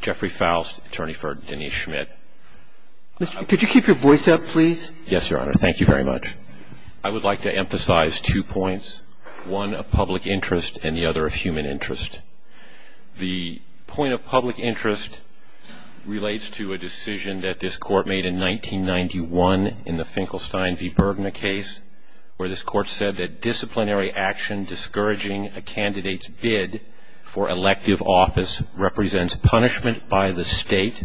Jeffrey Faust, attorney for Denise Schmidt. Could you keep your voice up, please? Yes, Your Honor. Thank you very much. I would like to emphasize two points, one of public interest and the other of human interest. The point of public interest relates to a decision that this court made in 1991 in the Finkelstein v. Bergner case, where this court said that disciplinary action discouraging a candidate's bid for elective office represents punishment by the state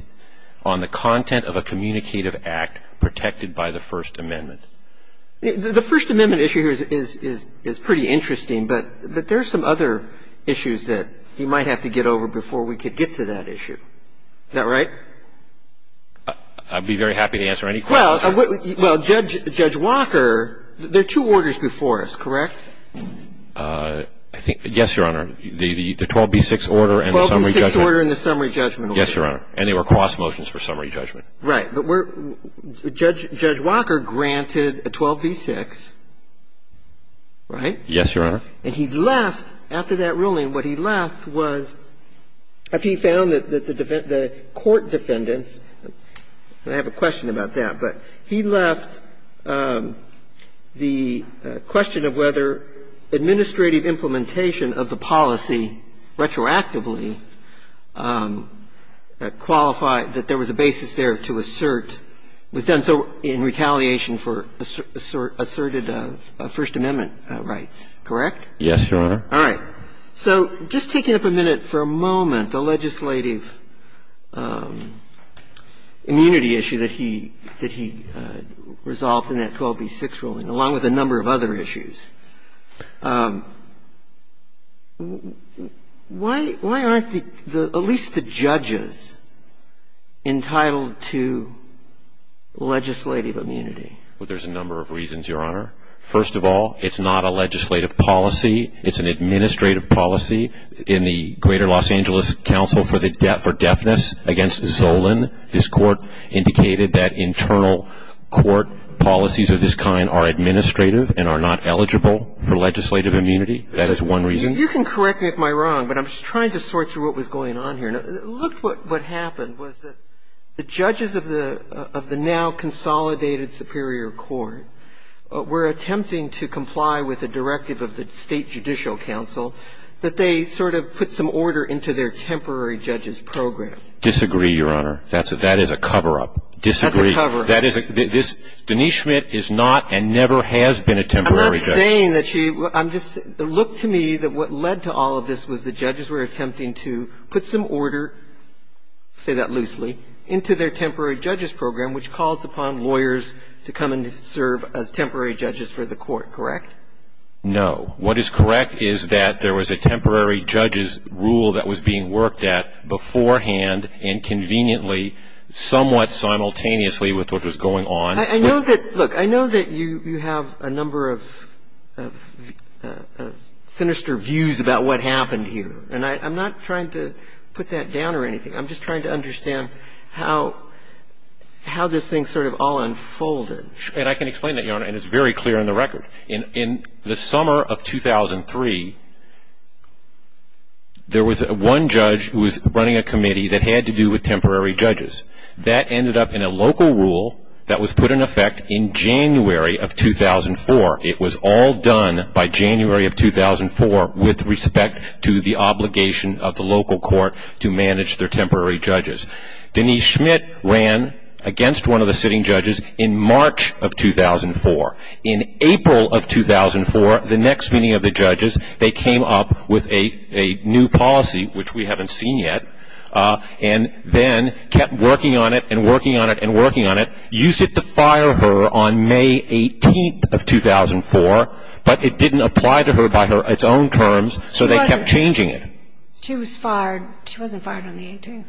on the content of a communicative act protected by the First Amendment. The First Amendment issue here is pretty interesting, but there are some other issues that you might have to get over before we could get to that issue. Is that right? I'd be very happy to answer any questions. Well, Judge Walker, there are two orders before us, correct? Yes, Your Honor. The 12b-6 order and the summary judgment order. 12b-6 order and the summary judgment order. Yes, Your Honor. And they were cross motions for summary judgment. Right. But Judge Walker granted a 12b-6, right? Yes, Your Honor. And he left, after that ruling, what he left was he found that the court defendants I have a question about that. But he left the question of whether administrative implementation of the policy retroactively qualified, that there was a basis there to assert, was done so in retaliation for asserted First Amendment rights, correct? Yes, Your Honor. All right. So just taking up a minute for a moment, the legislative immunity issue that he resolved in that 12b-6 ruling, along with a number of other issues, why aren't at least the judges entitled to legislative immunity? Well, there's a number of reasons, Your Honor. First of all, it's not a legislative policy. It's an administrative policy. In the Greater Los Angeles Council for Deafness against Zolin, this Court indicated that internal court policies of this kind are administrative and are not eligible for legislative immunity. That is one reason. You can correct me if I'm wrong, but I'm just trying to sort through what was going on here. Look what happened was that the judges of the now-consolidated Superior Court were and never has been a temporary judge. I'm not saying that she was. I'm just saying, look to me, that what led to all of this was the judges were attempting to put some order, say that loosely, into their temporary judges program, which calls upon lawyers to come and serve as temporary judges for the court, correct? And what you're correct is that there was a temporary judges rule that was being worked at beforehand and conveniently, somewhat simultaneously with what was going on. I know that, look, I know that you have a number of sinister views about what happened here, and I'm not trying to put that down or anything. I'm just trying to understand how this thing sort of all unfolded. And I can explain that, Your Honor, and it's very clear in the record. In the summer of 2003, there was one judge who was running a committee that had to do with temporary judges. That ended up in a local rule that was put in effect in January of 2004. It was all done by January of 2004 with respect to the obligation of the local court to manage their temporary judges. Denise Schmidt ran against one of the sitting judges in March of 2004. In April of 2004, the next meeting of the judges, they came up with a new policy, which we haven't seen yet, and then kept working on it and working on it and working on it, used it to fire her on May 18th of 2004, but it didn't apply to her by its own terms, so they kept changing it. She was fired. She wasn't fired on the 18th.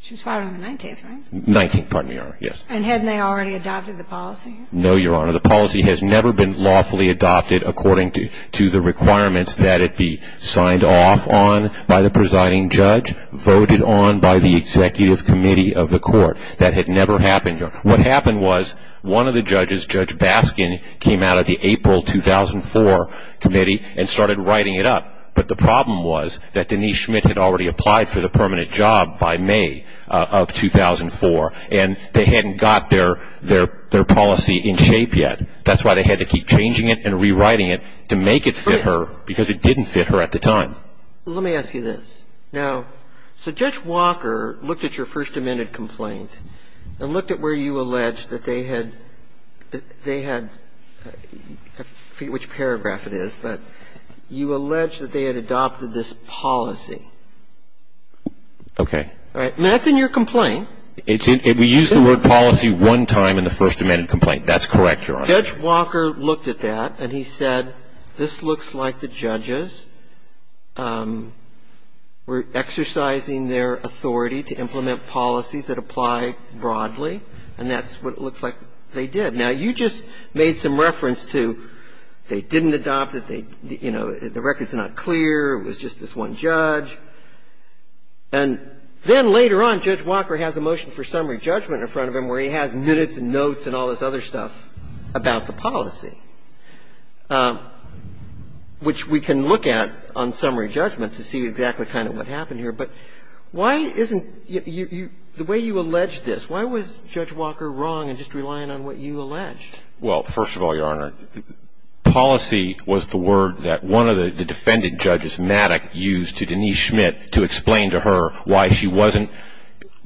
She was fired on the 19th, right? 19th, pardon me, Your Honor, yes. And hadn't they already adopted the policy? No, Your Honor, the policy has never been lawfully adopted according to the requirements that it be signed off on by the presiding judge, voted on by the executive committee of the court. That had never happened, Your Honor. What happened was one of the judges, Judge Baskin, came out of the April 2004 committee and started writing it up, but the problem was that Denise Schmidt had already applied for the permanent job by May of 2004, and they hadn't got their policy in shape yet. That's why they had to keep changing it and rewriting it to make it fit her because it didn't fit her at the time. Let me ask you this. Now, so Judge Walker looked at your First Amendment complaint and looked at where you allege that they had, they had, I forget which paragraph it is, but you allege that they had adopted this policy. Okay. All right. Now, that's in your complaint. We used the word policy one time in the First Amendment complaint. That's correct, Your Honor. Judge Walker looked at that and he said, this looks like the judges were exercising their authority to implement policies that apply broadly, and that's what it looks like they did. Now, you just made some reference to they didn't adopt it, they, you know, the record is not clear, it was just this one judge. And then later on, Judge Walker has a motion for summary judgment in front of him where he has minutes and notes and all this other stuff about the policy, which we can look at on summary judgment to see exactly kind of what happened here. But why isn't, the way you allege this, why was Judge Walker wrong in just relying on what you alleged? Well, first of all, Your Honor, policy was the word that one of the defendant judges, Maddox, used to Denise Schmidt to explain to her why she wasn't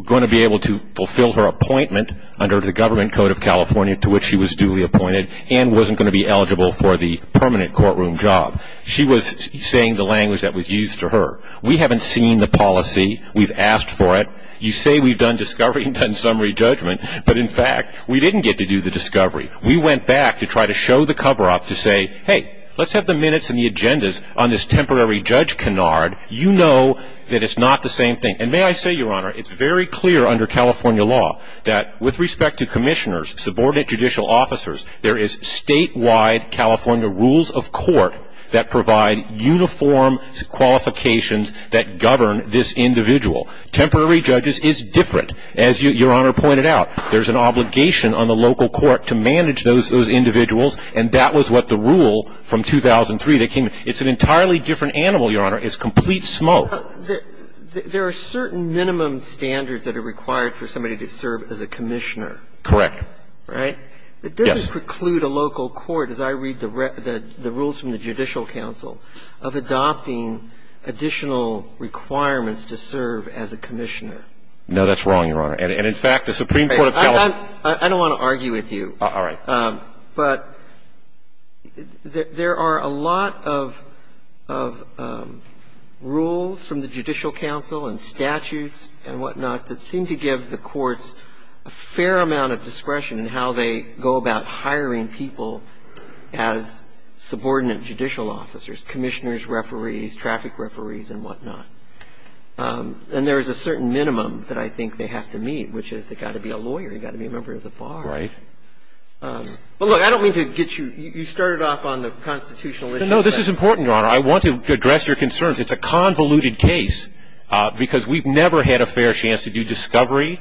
going to be able to fulfill her appointment under the government code of California to which she was duly appointed and wasn't going to be eligible for the permanent courtroom job. She was saying the language that was used to her. We haven't seen the policy. We've asked for it. You say we've done discovery and done summary judgment, but in fact, we didn't get to do the discovery. We went back to try to show the cover-up to say, hey, let's have the minutes and the agendas on this temporary judge canard. You know that it's not the same thing. And may I say, Your Honor, it's very clear under California law that with respect to commissioners, subordinate judicial officers, there is statewide California rules of order that provide uniform qualifications that govern this individual. Temporary judges is different. As Your Honor pointed out, there's an obligation on the local court to manage those individuals, and that was what the rule from 2003 that came in. It's an entirely different animal, Your Honor. It's complete smoke. There are certain minimum standards that are required for somebody to serve as a commissioner. Correct. Right? Yes. Does this preclude a local court, as I read the rules from the Judicial Council, of adopting additional requirements to serve as a commissioner? No, that's wrong, Your Honor. And in fact, the Supreme Court of California. I don't want to argue with you. All right. But there are a lot of rules from the Judicial Council and statutes and whatnot that seem to give the courts a fair amount of discretion in how they go about hiring people as subordinate judicial officers, commissioners, referees, traffic referees, and whatnot. And there is a certain minimum that I think they have to meet, which is they've got to be a lawyer. You've got to be a member of the bar. Right. Well, look, I don't mean to get you – you started off on the constitutional issue. No, this is important, Your Honor. I want to address your concerns. It's a convoluted case because we've never had a fair chance to do discovery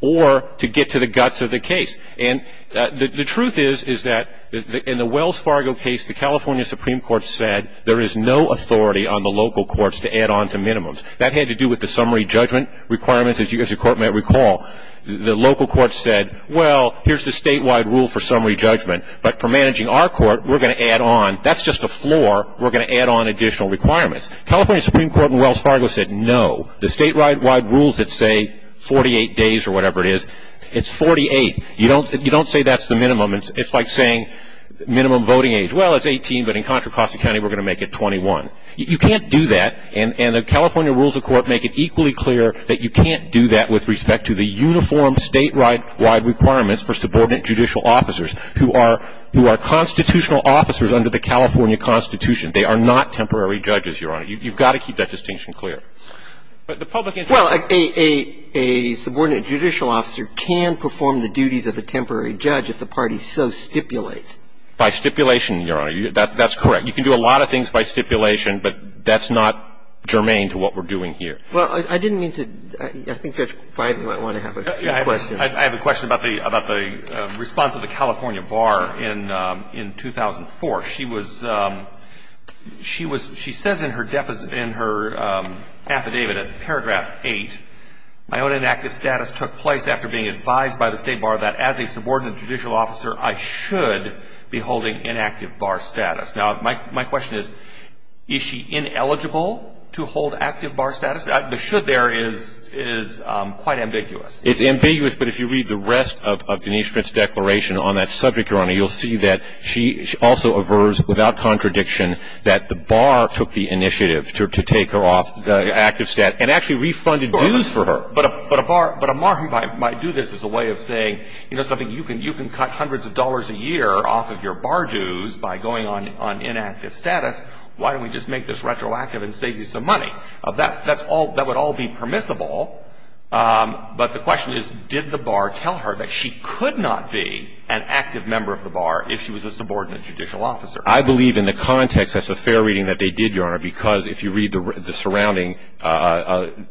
or to get to the guts of the case. And the truth is, is that in the Wells Fargo case, the California Supreme Court said there is no authority on the local courts to add on to minimums. That had to do with the summary judgment requirements, as you as a court may recall. The local courts said, well, here's the statewide rule for summary judgment, but for managing our court, we're going to add on. That's just a floor. We're going to add on additional requirements. California Supreme Court in Wells Fargo said no. The statewide rules that say 48 days or whatever it is, it's 48. You don't say that's the minimum. It's like saying minimum voting age. Well, it's 18, but in Contra Costa County, we're going to make it 21. You can't do that. And the California rules of court make it equally clear that you can't do that with respect to the uniform statewide requirements for subordinate judicial officers who are constitutional officers under the California Constitution. They are not temporary judges, Your Honor. You've got to keep that distinction clear. But the public interest is that you can't do that. Well, a subordinate judicial officer can perform the duties of a temporary judge if the parties so stipulate. By stipulation, Your Honor. That's correct. You can do a lot of things by stipulation, but that's not germane to what we're doing here. Well, I didn't mean to. I think Judge Feinberg might want to have a few questions. I have a question about the response of the California bar in 2004. She was ‑‑ she says in her affidavit at paragraph 8, my own inactive status took place after being advised by the state bar that as a subordinate judicial officer, I should be holding inactive bar status. Now, my question is, is she ineligible to hold active bar status? The should there is quite ambiguous. It's ambiguous, but if you read the rest of Denise Schmidt's declaration on that that the bar took the initiative to take her off the active status and actually refunded dues for her. But a bar ‑‑ but a margin might do this as a way of saying, you know, something, you can cut hundreds of dollars a year off of your bar dues by going on inactive status. Why don't we just make this retroactive and save you some money? That would all be permissible, but the question is, did the bar tell her that she could not be an active member of the bar if she was a subordinate judicial officer? I believe in the context, that's a fair reading that they did, Your Honor, because if you read the surrounding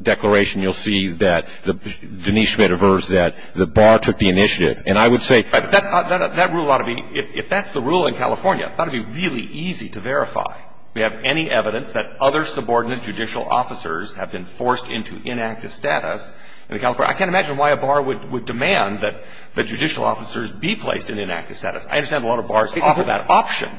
declaration, you'll see that Denise Schmidt aversed that the bar took the initiative. And I would say ‑‑ That rule ought to be ‑‑ if that's the rule in California, it ought to be really easy to verify. We have any evidence that other subordinate judicial officers have been forced into inactive status in California. I can't imagine why a bar would demand that judicial officers be placed in inactive status. I understand a lot of bars offer that option.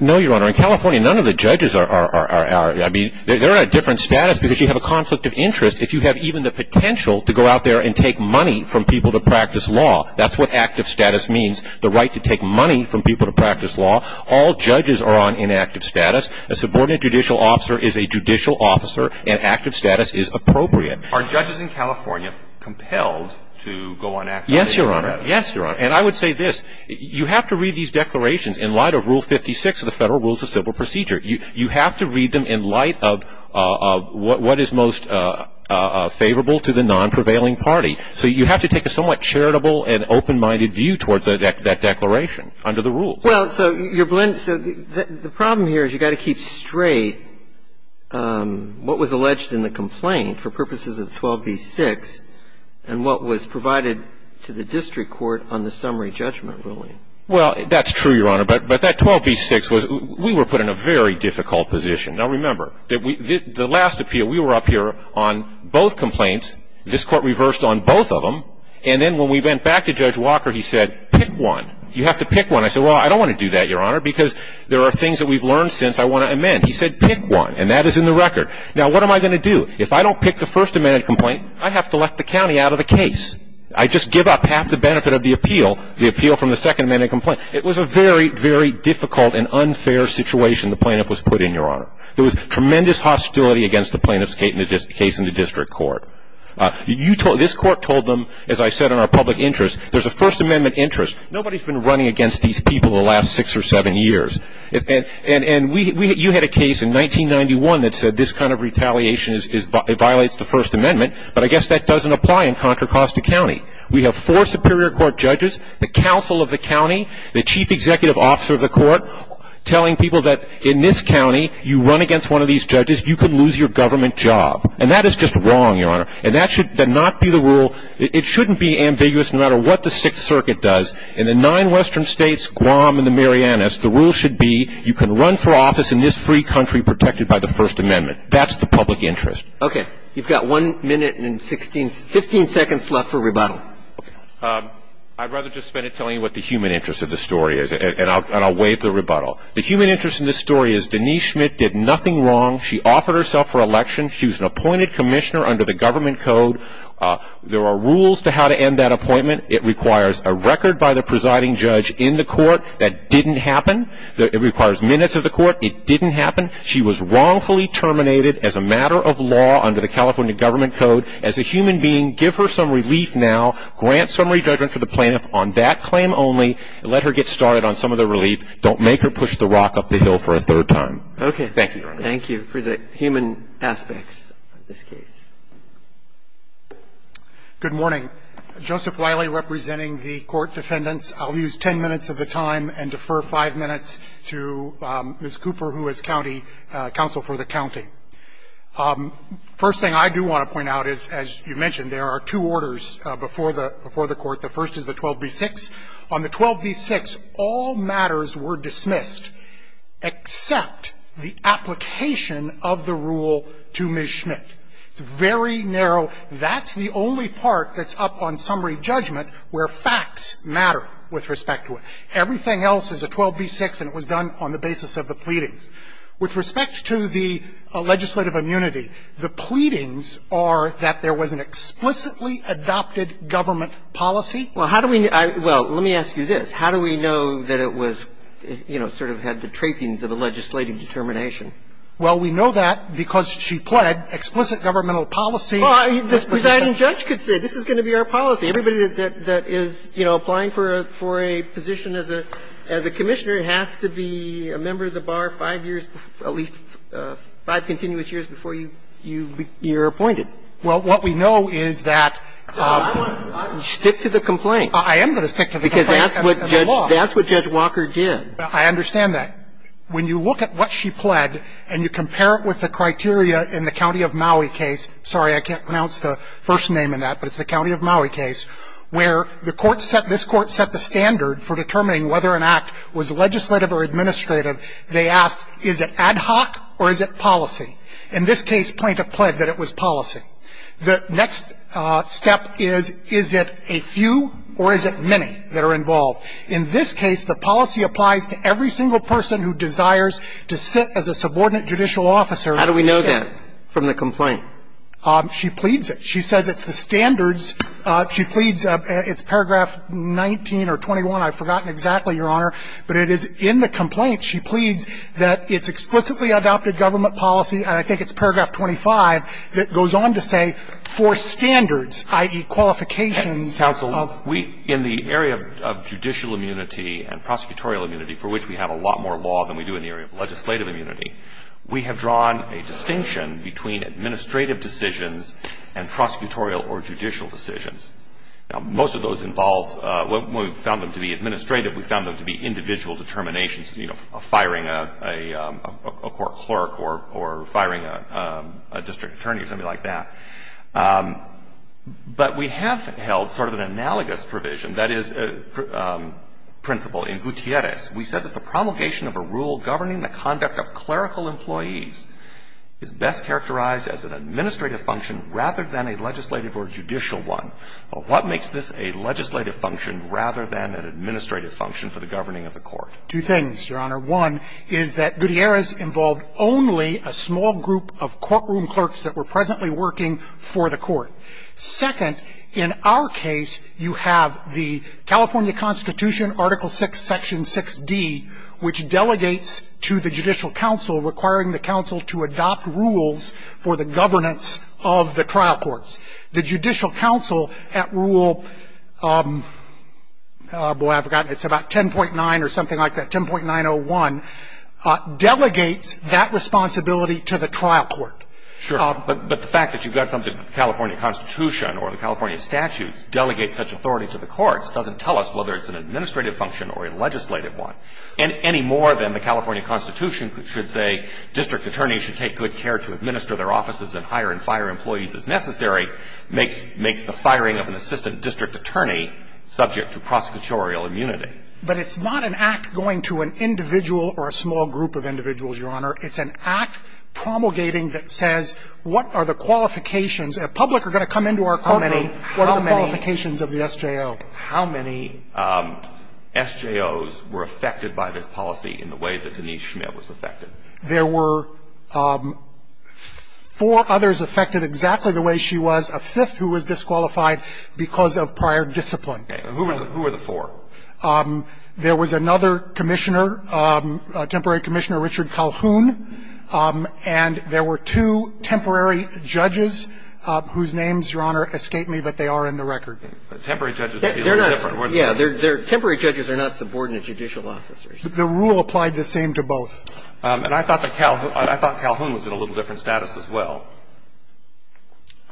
No, Your Honor. In California, none of the judges are ‑‑ I mean, they're in a different status because you have a conflict of interest if you have even the potential to go out there and take money from people to practice law. That's what active status means, the right to take money from people to practice law. All judges are on inactive status. A subordinate judicial officer is a judicial officer, and active status is appropriate. Are judges in California compelled to go on active status? Yes, Your Honor. Yes, Your Honor. And I would say this. You have to read these declarations in light of Rule 56 of the Federal Rules of Civil Procedure. You have to read them in light of what is most favorable to the non‑prevailing party. So you have to take a somewhat charitable and open‑minded view towards that declaration under the rules. Well, so the problem here is you got to keep straight what was alleged in the complaint for purposes of 12B6 and what was provided to the district court on the summary judgment ruling. Well, that's true, Your Honor, but that 12B6 was ‑‑ we were put in a very difficult position. Now, remember, the last appeal, we were up here on both complaints. This Court reversed on both of them, and then when we went back to Judge Walker, he said, pick one. You have to pick one. I said, well, I don't want to do that, Your Honor, because there are things that we've learned since I want to amend. He said, pick one, and that is in the record. Now, what am I going to do? If I don't pick the First Amendment complaint, I have to let the county out of the case. I just give up half the benefit of the appeal, the appeal from the Second Amendment complaint. It was a very, very difficult and unfair situation the plaintiff was put in, Your Honor. There was tremendous hostility against the plaintiff's case in the district court. This court told them, as I said, in our public interest, there's a First Amendment interest. Nobody's been running against these people the last six or seven years. And you had a case in 1991 that said this kind of retaliation violates the First Amendment, but I guess that doesn't apply in Contra Costa County. We have four Superior Court judges, the counsel of the county, the chief executive officer of the court telling people that in this county, you run against one of these judges, you could lose your government job. And that is just wrong, Your Honor. And that should not be the rule. It shouldn't be ambiguous no matter what the Sixth Circuit does. In the nine western states, Guam and the Marianas, the rule should be you can run for office in this free country protected by the First Amendment. That's the public interest. Okay. You've got one minute and 15 seconds left for rebuttal. I'd rather just spend it telling you what the human interest of the story is, and I'll waive the rebuttal. The human interest in this story is Denise Schmidt did nothing wrong. She offered herself for election. She was an appointed commissioner under the government code. There are rules to how to end that appointment. It requires a record by the presiding judge in the court. That didn't happen. It requires minutes of the court. It didn't happen. She was wrongfully terminated as a matter of law under the California government code. As a human being, give her some relief now. Grant some redressment for the plaintiff on that claim only. Let her get started on some of the relief. Don't make her push the rock up the hill for a third time. Okay. Thank you, Your Honor. Thank you for the human aspects of this case. Good morning. I'm Joseph Wiley representing the court defendants. I'll use ten minutes of the time and defer five minutes to Ms. Cooper, who is county counsel for the county. First thing I do want to point out is, as you mentioned, there are two orders before the court. The first is the 12b-6. On the 12b-6, all matters were dismissed except the application of the rule to Ms. Schmidt. It's very narrow. That's the only part that's up on summary judgment where facts matter with respect to it. Everything else is a 12b-6 and it was done on the basis of the pleadings. With respect to the legislative immunity, the pleadings are that there was an explicitly adopted government policy. Well, how do we know? Well, let me ask you this. How do we know that it was, you know, sort of had the trappings of a legislative determination? Well, we know that because she pled explicit governmental policy. Well, this presiding judge could say, this is going to be our policy. Everybody that is, you know, applying for a position as a commissioner has to be a member of the bar five years, at least five continuous years before you're appointed. Well, what we know is that you stick to the complaint. I am going to stick to the complaint. Because that's what Judge Walker did. I understand that. When you look at what she pled and you compare it with the criteria in the county of Maui case, sorry, I can't pronounce the first name in that, but it's the county of Maui case, where the court set the standard for determining whether an act was legislative or administrative, they asked, is it ad hoc or is it policy? In this case, plaintiff pled that it was policy. The next step is, is it a few or is it many that are involved? In this case, the policy applies to every single person who desires to sit as a subordinate judicial officer. How do we know that from the complaint? She pleads it. She says it's the standards. She pleads, it's paragraph 19 or 21. I've forgotten exactly, Your Honor. But it is in the complaint, she pleads, that it's explicitly adopted government policy, and I think it's paragraph 25, that goes on to say, for standards, i.e., qualifications. Counsel, we, in the area of judicial immunity and prosecutorial immunity, for which we have a lot more law than we do in the area of legislative immunity, we have drawn a distinction between administrative decisions and prosecutorial or judicial decisions. Now, most of those involve, when we found them to be administrative, we found them to be individual determinations, you know, firing a court clerk or firing a district attorney, something like that. But we have held sort of an analogous provision, that is, principle in Gutierrez. We said that the promulgation of a rule governing the conduct of clerical employees is best characterized as an administrative function rather than a legislative or judicial one. But what makes this a legislative function rather than an administrative function for the governing of the court? Two things, Your Honor. One is that Gutierrez involved only a small group of courtroom clerks that were presently working for the court. Second, in our case, you have the California Constitution, Article VI, Section 6d, which delegates to the judicial counsel, requiring the counsel to adopt rules for the governance of the trial courts. The judicial counsel at Rule, boy, I've forgotten, it's about 10.9 or something like that, 10.901, delegates that responsibility to the trial court. But the fact that you've got something, the California Constitution or the California statutes, delegates such authority to the courts doesn't tell us whether it's an administrative function or a legislative one. And any more than the California Constitution should say district attorneys should take good care to administer their offices and hire and fire employees as necessary makes the firing of an assistant district attorney subject to prosecutorial immunity. But it's not an act going to an individual or a small group of individuals, Your Honor. It's an act promulgating that says what are the qualifications. A public are going to come into our courtroom. What are the qualifications of the SJO? How many SJOs were affected by this policy in the way that Denise Schmidt was affected? There were four others affected exactly the way she was, a fifth who was disqualified because of prior discipline. Okay. Who were the four? There was another commissioner, temporary commissioner Richard Calhoun, and there were two temporary judges whose names, Your Honor, escape me, but they are in the record. Temporary judges would be a little different. Yeah. Temporary judges are not subordinate judicial officers. The rule applied the same to both. And I thought that Calhoun was in a little different status as well.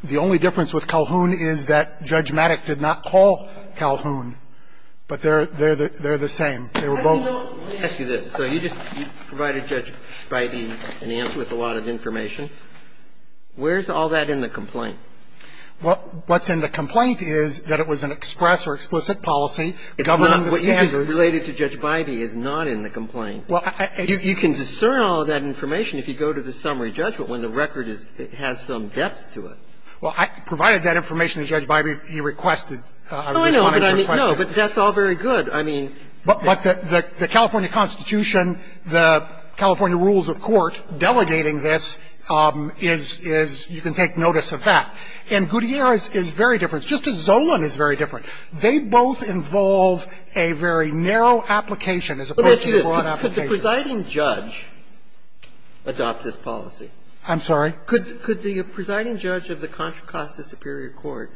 The only difference with Calhoun is that Judge Maddox did not call Calhoun. But they're the same. They were both. Let me ask you this. So you just provided Judge Bybee an answer with a lot of information. Where's all that in the complaint? What's in the complaint is that it was an express or explicit policy governing the standards. It's not. What you just related to Judge Bybee is not in the complaint. You can discern all that information if you go to the summary judgment when the record has some depth to it. Well, I provided that information to Judge Bybee. He requested. I just wanted to request it. No, but that's all very good. I mean. But the California Constitution, the California rules of court delegating this is you can take notice of that. And Gutierrez is very different, just as Zolan is very different. They both involve a very narrow application as opposed to a broad application. Let me ask you this. Could the presiding judge adopt this policy? I'm sorry? Could the presiding judge of the Contra Costa Superior Court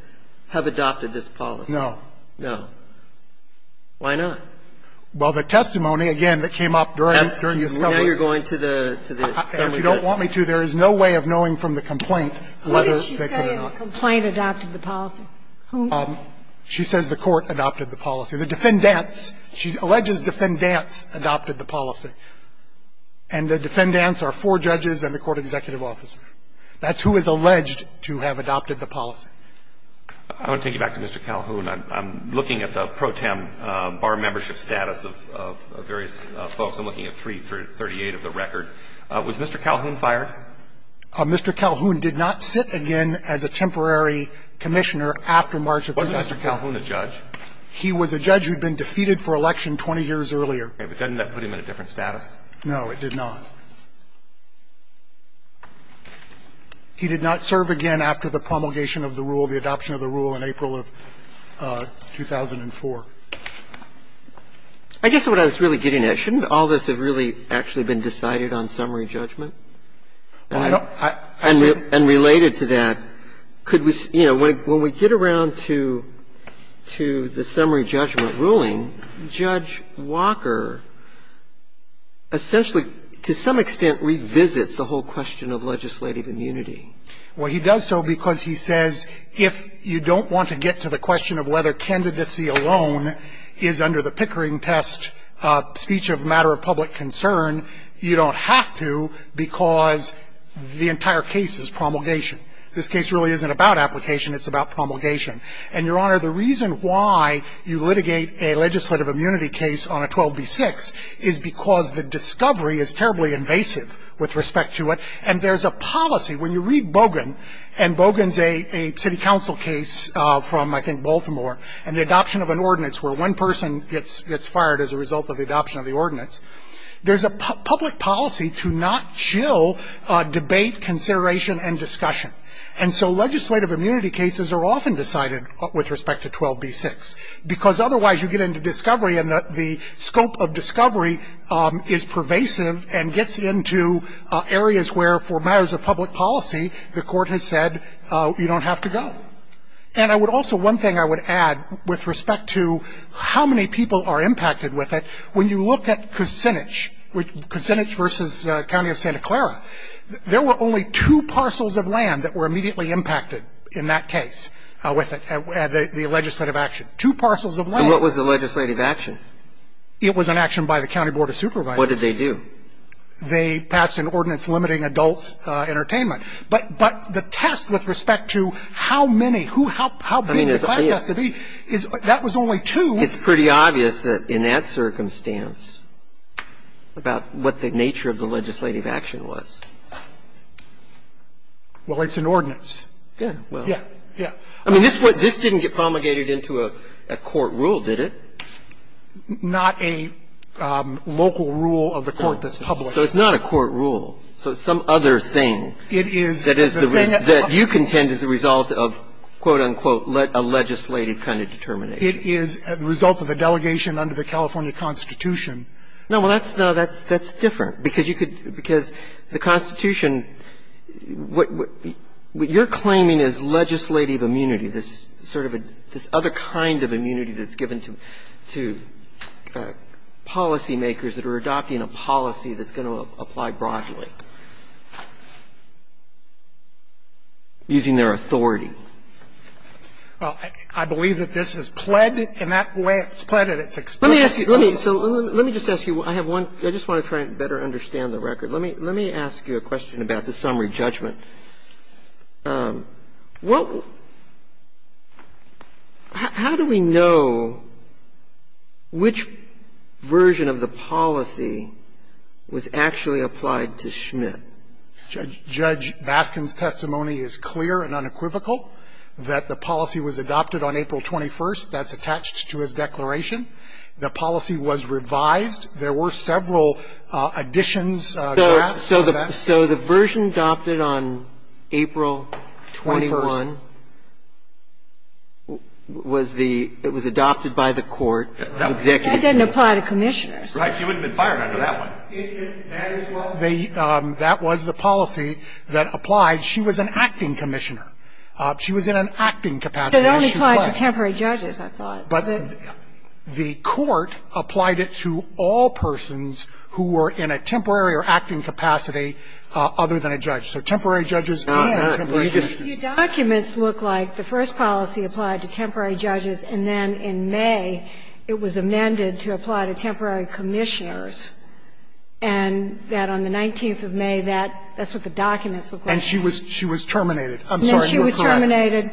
have adopted this policy? No. No. Why not? Well, the testimony, again, that came up during the summary. Now you're going to the summary judgment. If you don't want me to, there is no way of knowing from the complaint whether they could or not. What did she say in the complaint adopted the policy? She says the Court adopted the policy. The defendants, she alleges defendants adopted the policy. And the defendants are four judges and the court executive officer. That's who is alleged to have adopted the policy. I want to take you back to Mr. Calhoun. I'm looking at the pro tem bar membership status of various folks. I'm looking at 338 of the record. Was Mr. Calhoun fired? Mr. Calhoun did not sit again as a temporary commissioner after March of 2004. Wasn't Mr. Calhoun a judge? He was a judge who had been defeated for election 20 years earlier. Okay. But doesn't that put him in a different status? No, it did not. He did not serve again after the promulgation of the rule, the adoption of the rule in April of 2004. I guess what I was really getting at, shouldn't all this have really actually been decided on summary judgment? Well, I don't think so. And related to that, could we, you know, when we get around to the summary judgment ruling, Judge Walker essentially to some extent revisits the whole question of legislative immunity? Well, he does so because he says if you don't want to get to the question of whether candidacy alone is under the Pickering test speech of a matter of public concern, you don't have to because the entire case is promulgation. This case really isn't about application. It's about promulgation. And, Your Honor, the reason why you litigate a legislative immunity case on a 12B6 is because the discovery is terribly invasive with respect to it, and there's a policy. When you read Bogan, and Bogan's a city council case from, I think, Baltimore, and the adoption of an ordinance where one person gets fired as a result of the adoption of the ordinance, there's a public policy to not chill debate, consideration, and discussion. And so legislative immunity cases are often decided with respect to 12B6 because otherwise you get into discovery and the scope of discovery is pervasive and gets into areas where for matters of public policy the court has said you don't have to go. And I would also, one thing I would add with respect to how many people are impacted with it, when you look at Kucinich, Kucinich versus County of Santa Clara, there were only two parcels of land that were immediately impacted in that case with the legislative action. Two parcels of land. And what was the legislative action? It was an action by the County Board of Supervisors. What did they do? They passed an ordinance limiting adult entertainment. But the test with respect to how many, who, how big the class has to be, that was only two. It's pretty obvious that in that circumstance, about what the nature of the legislative action was. Well, it's an ordinance. Yeah. Yeah. I mean, this didn't get promulgated into a court rule, did it? Not a local rule of the court that's published. So it's not a court rule. So it's some other thing. It is. That you contend is the result of, quote, unquote, a legislative kind of determination. It is the result of a delegation under the California Constitution. No, well, that's no, that's different. Because you could, because the Constitution, what you're claiming is legislative immunity, this sort of a, this other kind of immunity that's given to, to policy makers that are adopting a policy that's going to apply broadly using their authority. Well, I believe that this is pledged in that way it's pledged and it's explicit. Let me ask you, let me, so let me just ask you, I have one, I just want to try and better understand the record. Let me, let me ask you a question about the summary judgment. What, how do we know which version of the policy was actually applied to Schmidt? Judge Baskin's testimony is clear and unequivocal that the policy was adopted on April 21st. That's attached to his declaration. The policy was revised. There were several additions, drafts. So the, so the version adopted on April 21st was the, it was adopted by the court. That didn't apply to commissioners. Right. She wouldn't have been fired under that one. That is what the, that was the policy that applied. She was an acting commissioner. So it only applied to temporary judges, I thought. But the court applied it to all persons who were in a temporary or acting capacity other than a judge. So temporary judges and temporary commissioners. Your documents look like the first policy applied to temporary judges and then in May it was amended to apply to temporary commissioners and that on the 19th of May that, that's what the documents look like. And she was, she was terminated. I'm sorry. She was terminated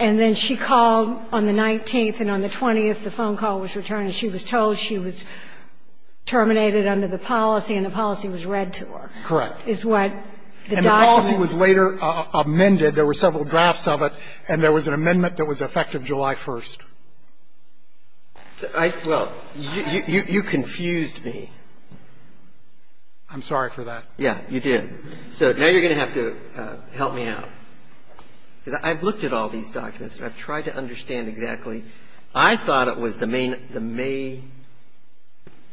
and then she called on the 19th and on the 20th the phone call was returned. She was told she was terminated under the policy and the policy was read to her. Correct. Is what the documents. And the policy was later amended. There were several drafts of it and there was an amendment that was effective July 1st. I, well, you, you confused me. I'm sorry for that. Yeah, you did. So now you're going to have to help me out. I've looked at all these documents and I've tried to understand exactly. I thought it was the main, the May,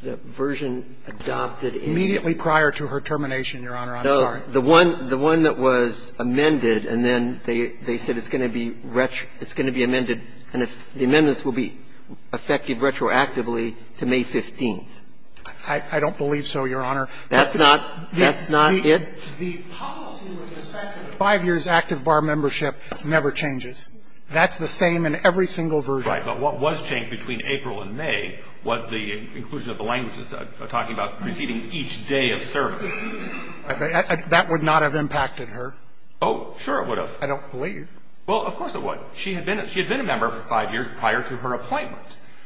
the version adopted in. Immediately prior to her termination, Your Honor. I'm sorry. The one, the one that was amended and then they, they said it's going to be retro, it's going to be amended and the amendments will be effective retroactively to May 15th. I, I don't believe so, Your Honor. That's not, that's not it? The policy was effective. Five years active bar membership never changes. That's the same in every single version. Right. But what was changed between April and May was the inclusion of the languages talking about receiving each day of service. That would not have impacted her. Oh, sure it would have. I don't believe. Well, of course it would. She had been, she had been a member for five years prior to her appointment.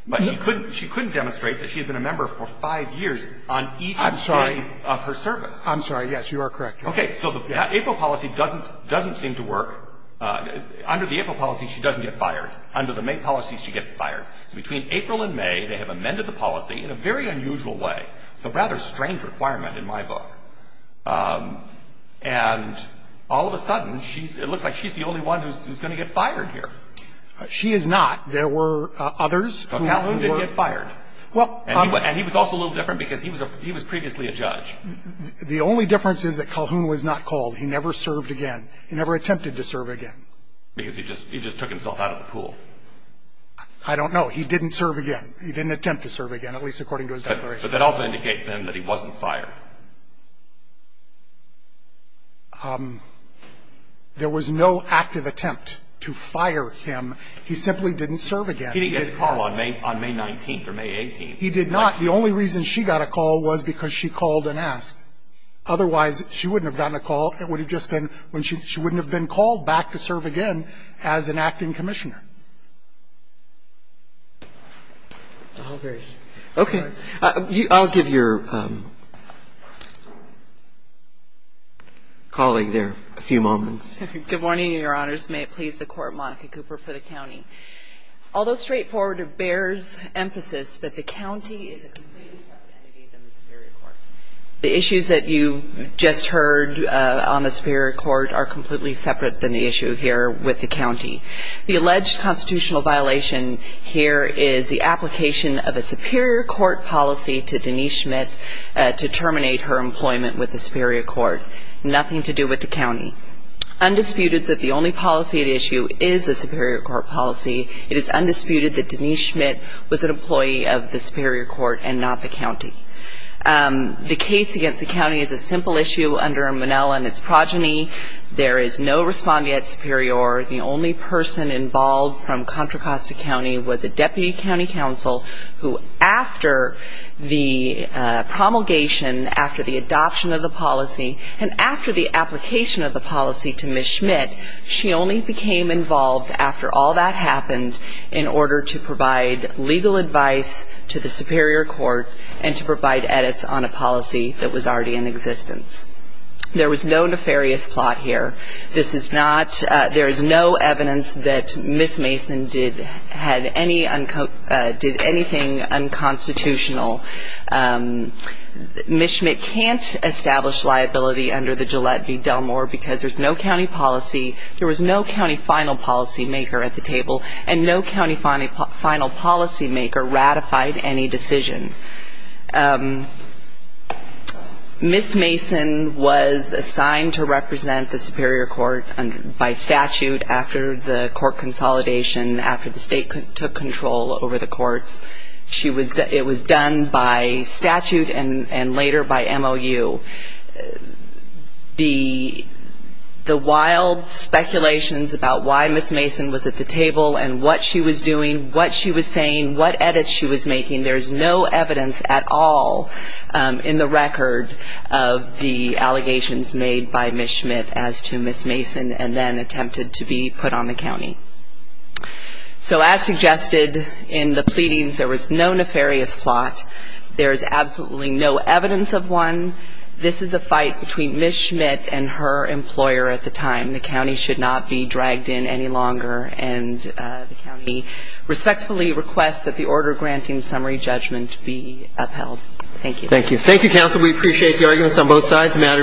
But she couldn't, she couldn't demonstrate that she had been a member for five years on each day of her service. I'm sorry. I'm sorry. Yes, you are correct, Your Honor. Okay. So the April policy doesn't, doesn't seem to work. Under the April policy, she doesn't get fired. Under the May policy, she gets fired. So between April and May, they have amended the policy in a very unusual way. A rather strange requirement in my book. And all of a sudden, she's, it looks like she's the only one who's, who's going to get fired here. She is not. There were others who were. Calhoun didn't get fired. Well. And he was also a little different because he was a, he was previously a judge. The only difference is that Calhoun was not called. He never served again. He never attempted to serve again. Because he just, he just took himself out of the pool. I don't know. He didn't serve again. He didn't attempt to serve again, at least according to his declaration. But that also indicates then that he wasn't fired. There was no active attempt to fire him. He simply didn't serve again. He didn't get a call on May, on May 19th or May 18th. He did not. The only reason she got a call was because she called and asked. Otherwise, she wouldn't have gotten a call. It would have just been when she, she wouldn't have been called back to serve again as an acting commissioner. Okay. I'll give your colleague there a few moments. Good morning, your honors. May it please the court, Monica Cooper for the county. Although straightforward, it bears emphasis that the county is a complete separate entity than the Superior Court. The issues that you just heard on the Superior Court are completely separate than the issue here with the county. The alleged constitutional violation here is the application of a Superior Court policy to Denise Schmidt to terminate her employment with the Superior Court. Nothing to do with the county. Undisputed that the only policy at issue is a Superior Court policy. It is undisputed that Denise Schmidt was an employee of the Superior Court and not the county. The case against the county is a simple issue under Monell and its progeny. There is no respondee at Superior. The only person involved from Contra Costa County was a deputy county counsel who, after the promulgation, after the adoption of the policy, and after the application of the policy to Ms. Schmidt, she only became involved after all that happened in order to provide legal advice to the Superior Court and to provide edits on a policy that was already in existence. There was no nefarious plot here. This is not, there is no evidence that Ms. Mason did anything unconstitutional. Ms. Schmidt can't establish liability under the Gillette v. Delmore because there's no county policy, there was no county final policy maker at the table, and no county final policy maker ratified any decision. Ms. Mason was assigned to represent the Superior Court by statute after the court consolidation, after the state took control over the courts. She was, it was done by statute and later by MOU. The wild speculations about why Ms. Mason was at the table and what she was doing, what she was saying, what edits she was making, there's no evidence at all in the record of the allegations made by Ms. Schmidt as to Ms. Mason and then attempted to be put on the county. So as suggested in the pleadings, there was no nefarious plot. There is absolutely no evidence of one. This is a fight between Ms. Schmidt and her employer at the time. The county should not be dragged in any longer and the county respectfully requests that the order granting summary judgment be upheld. Thank you. Thank you. Thank you, counsel. We appreciate the arguments on both sides. The matter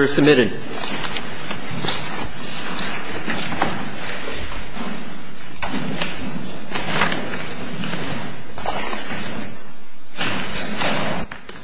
is submitted.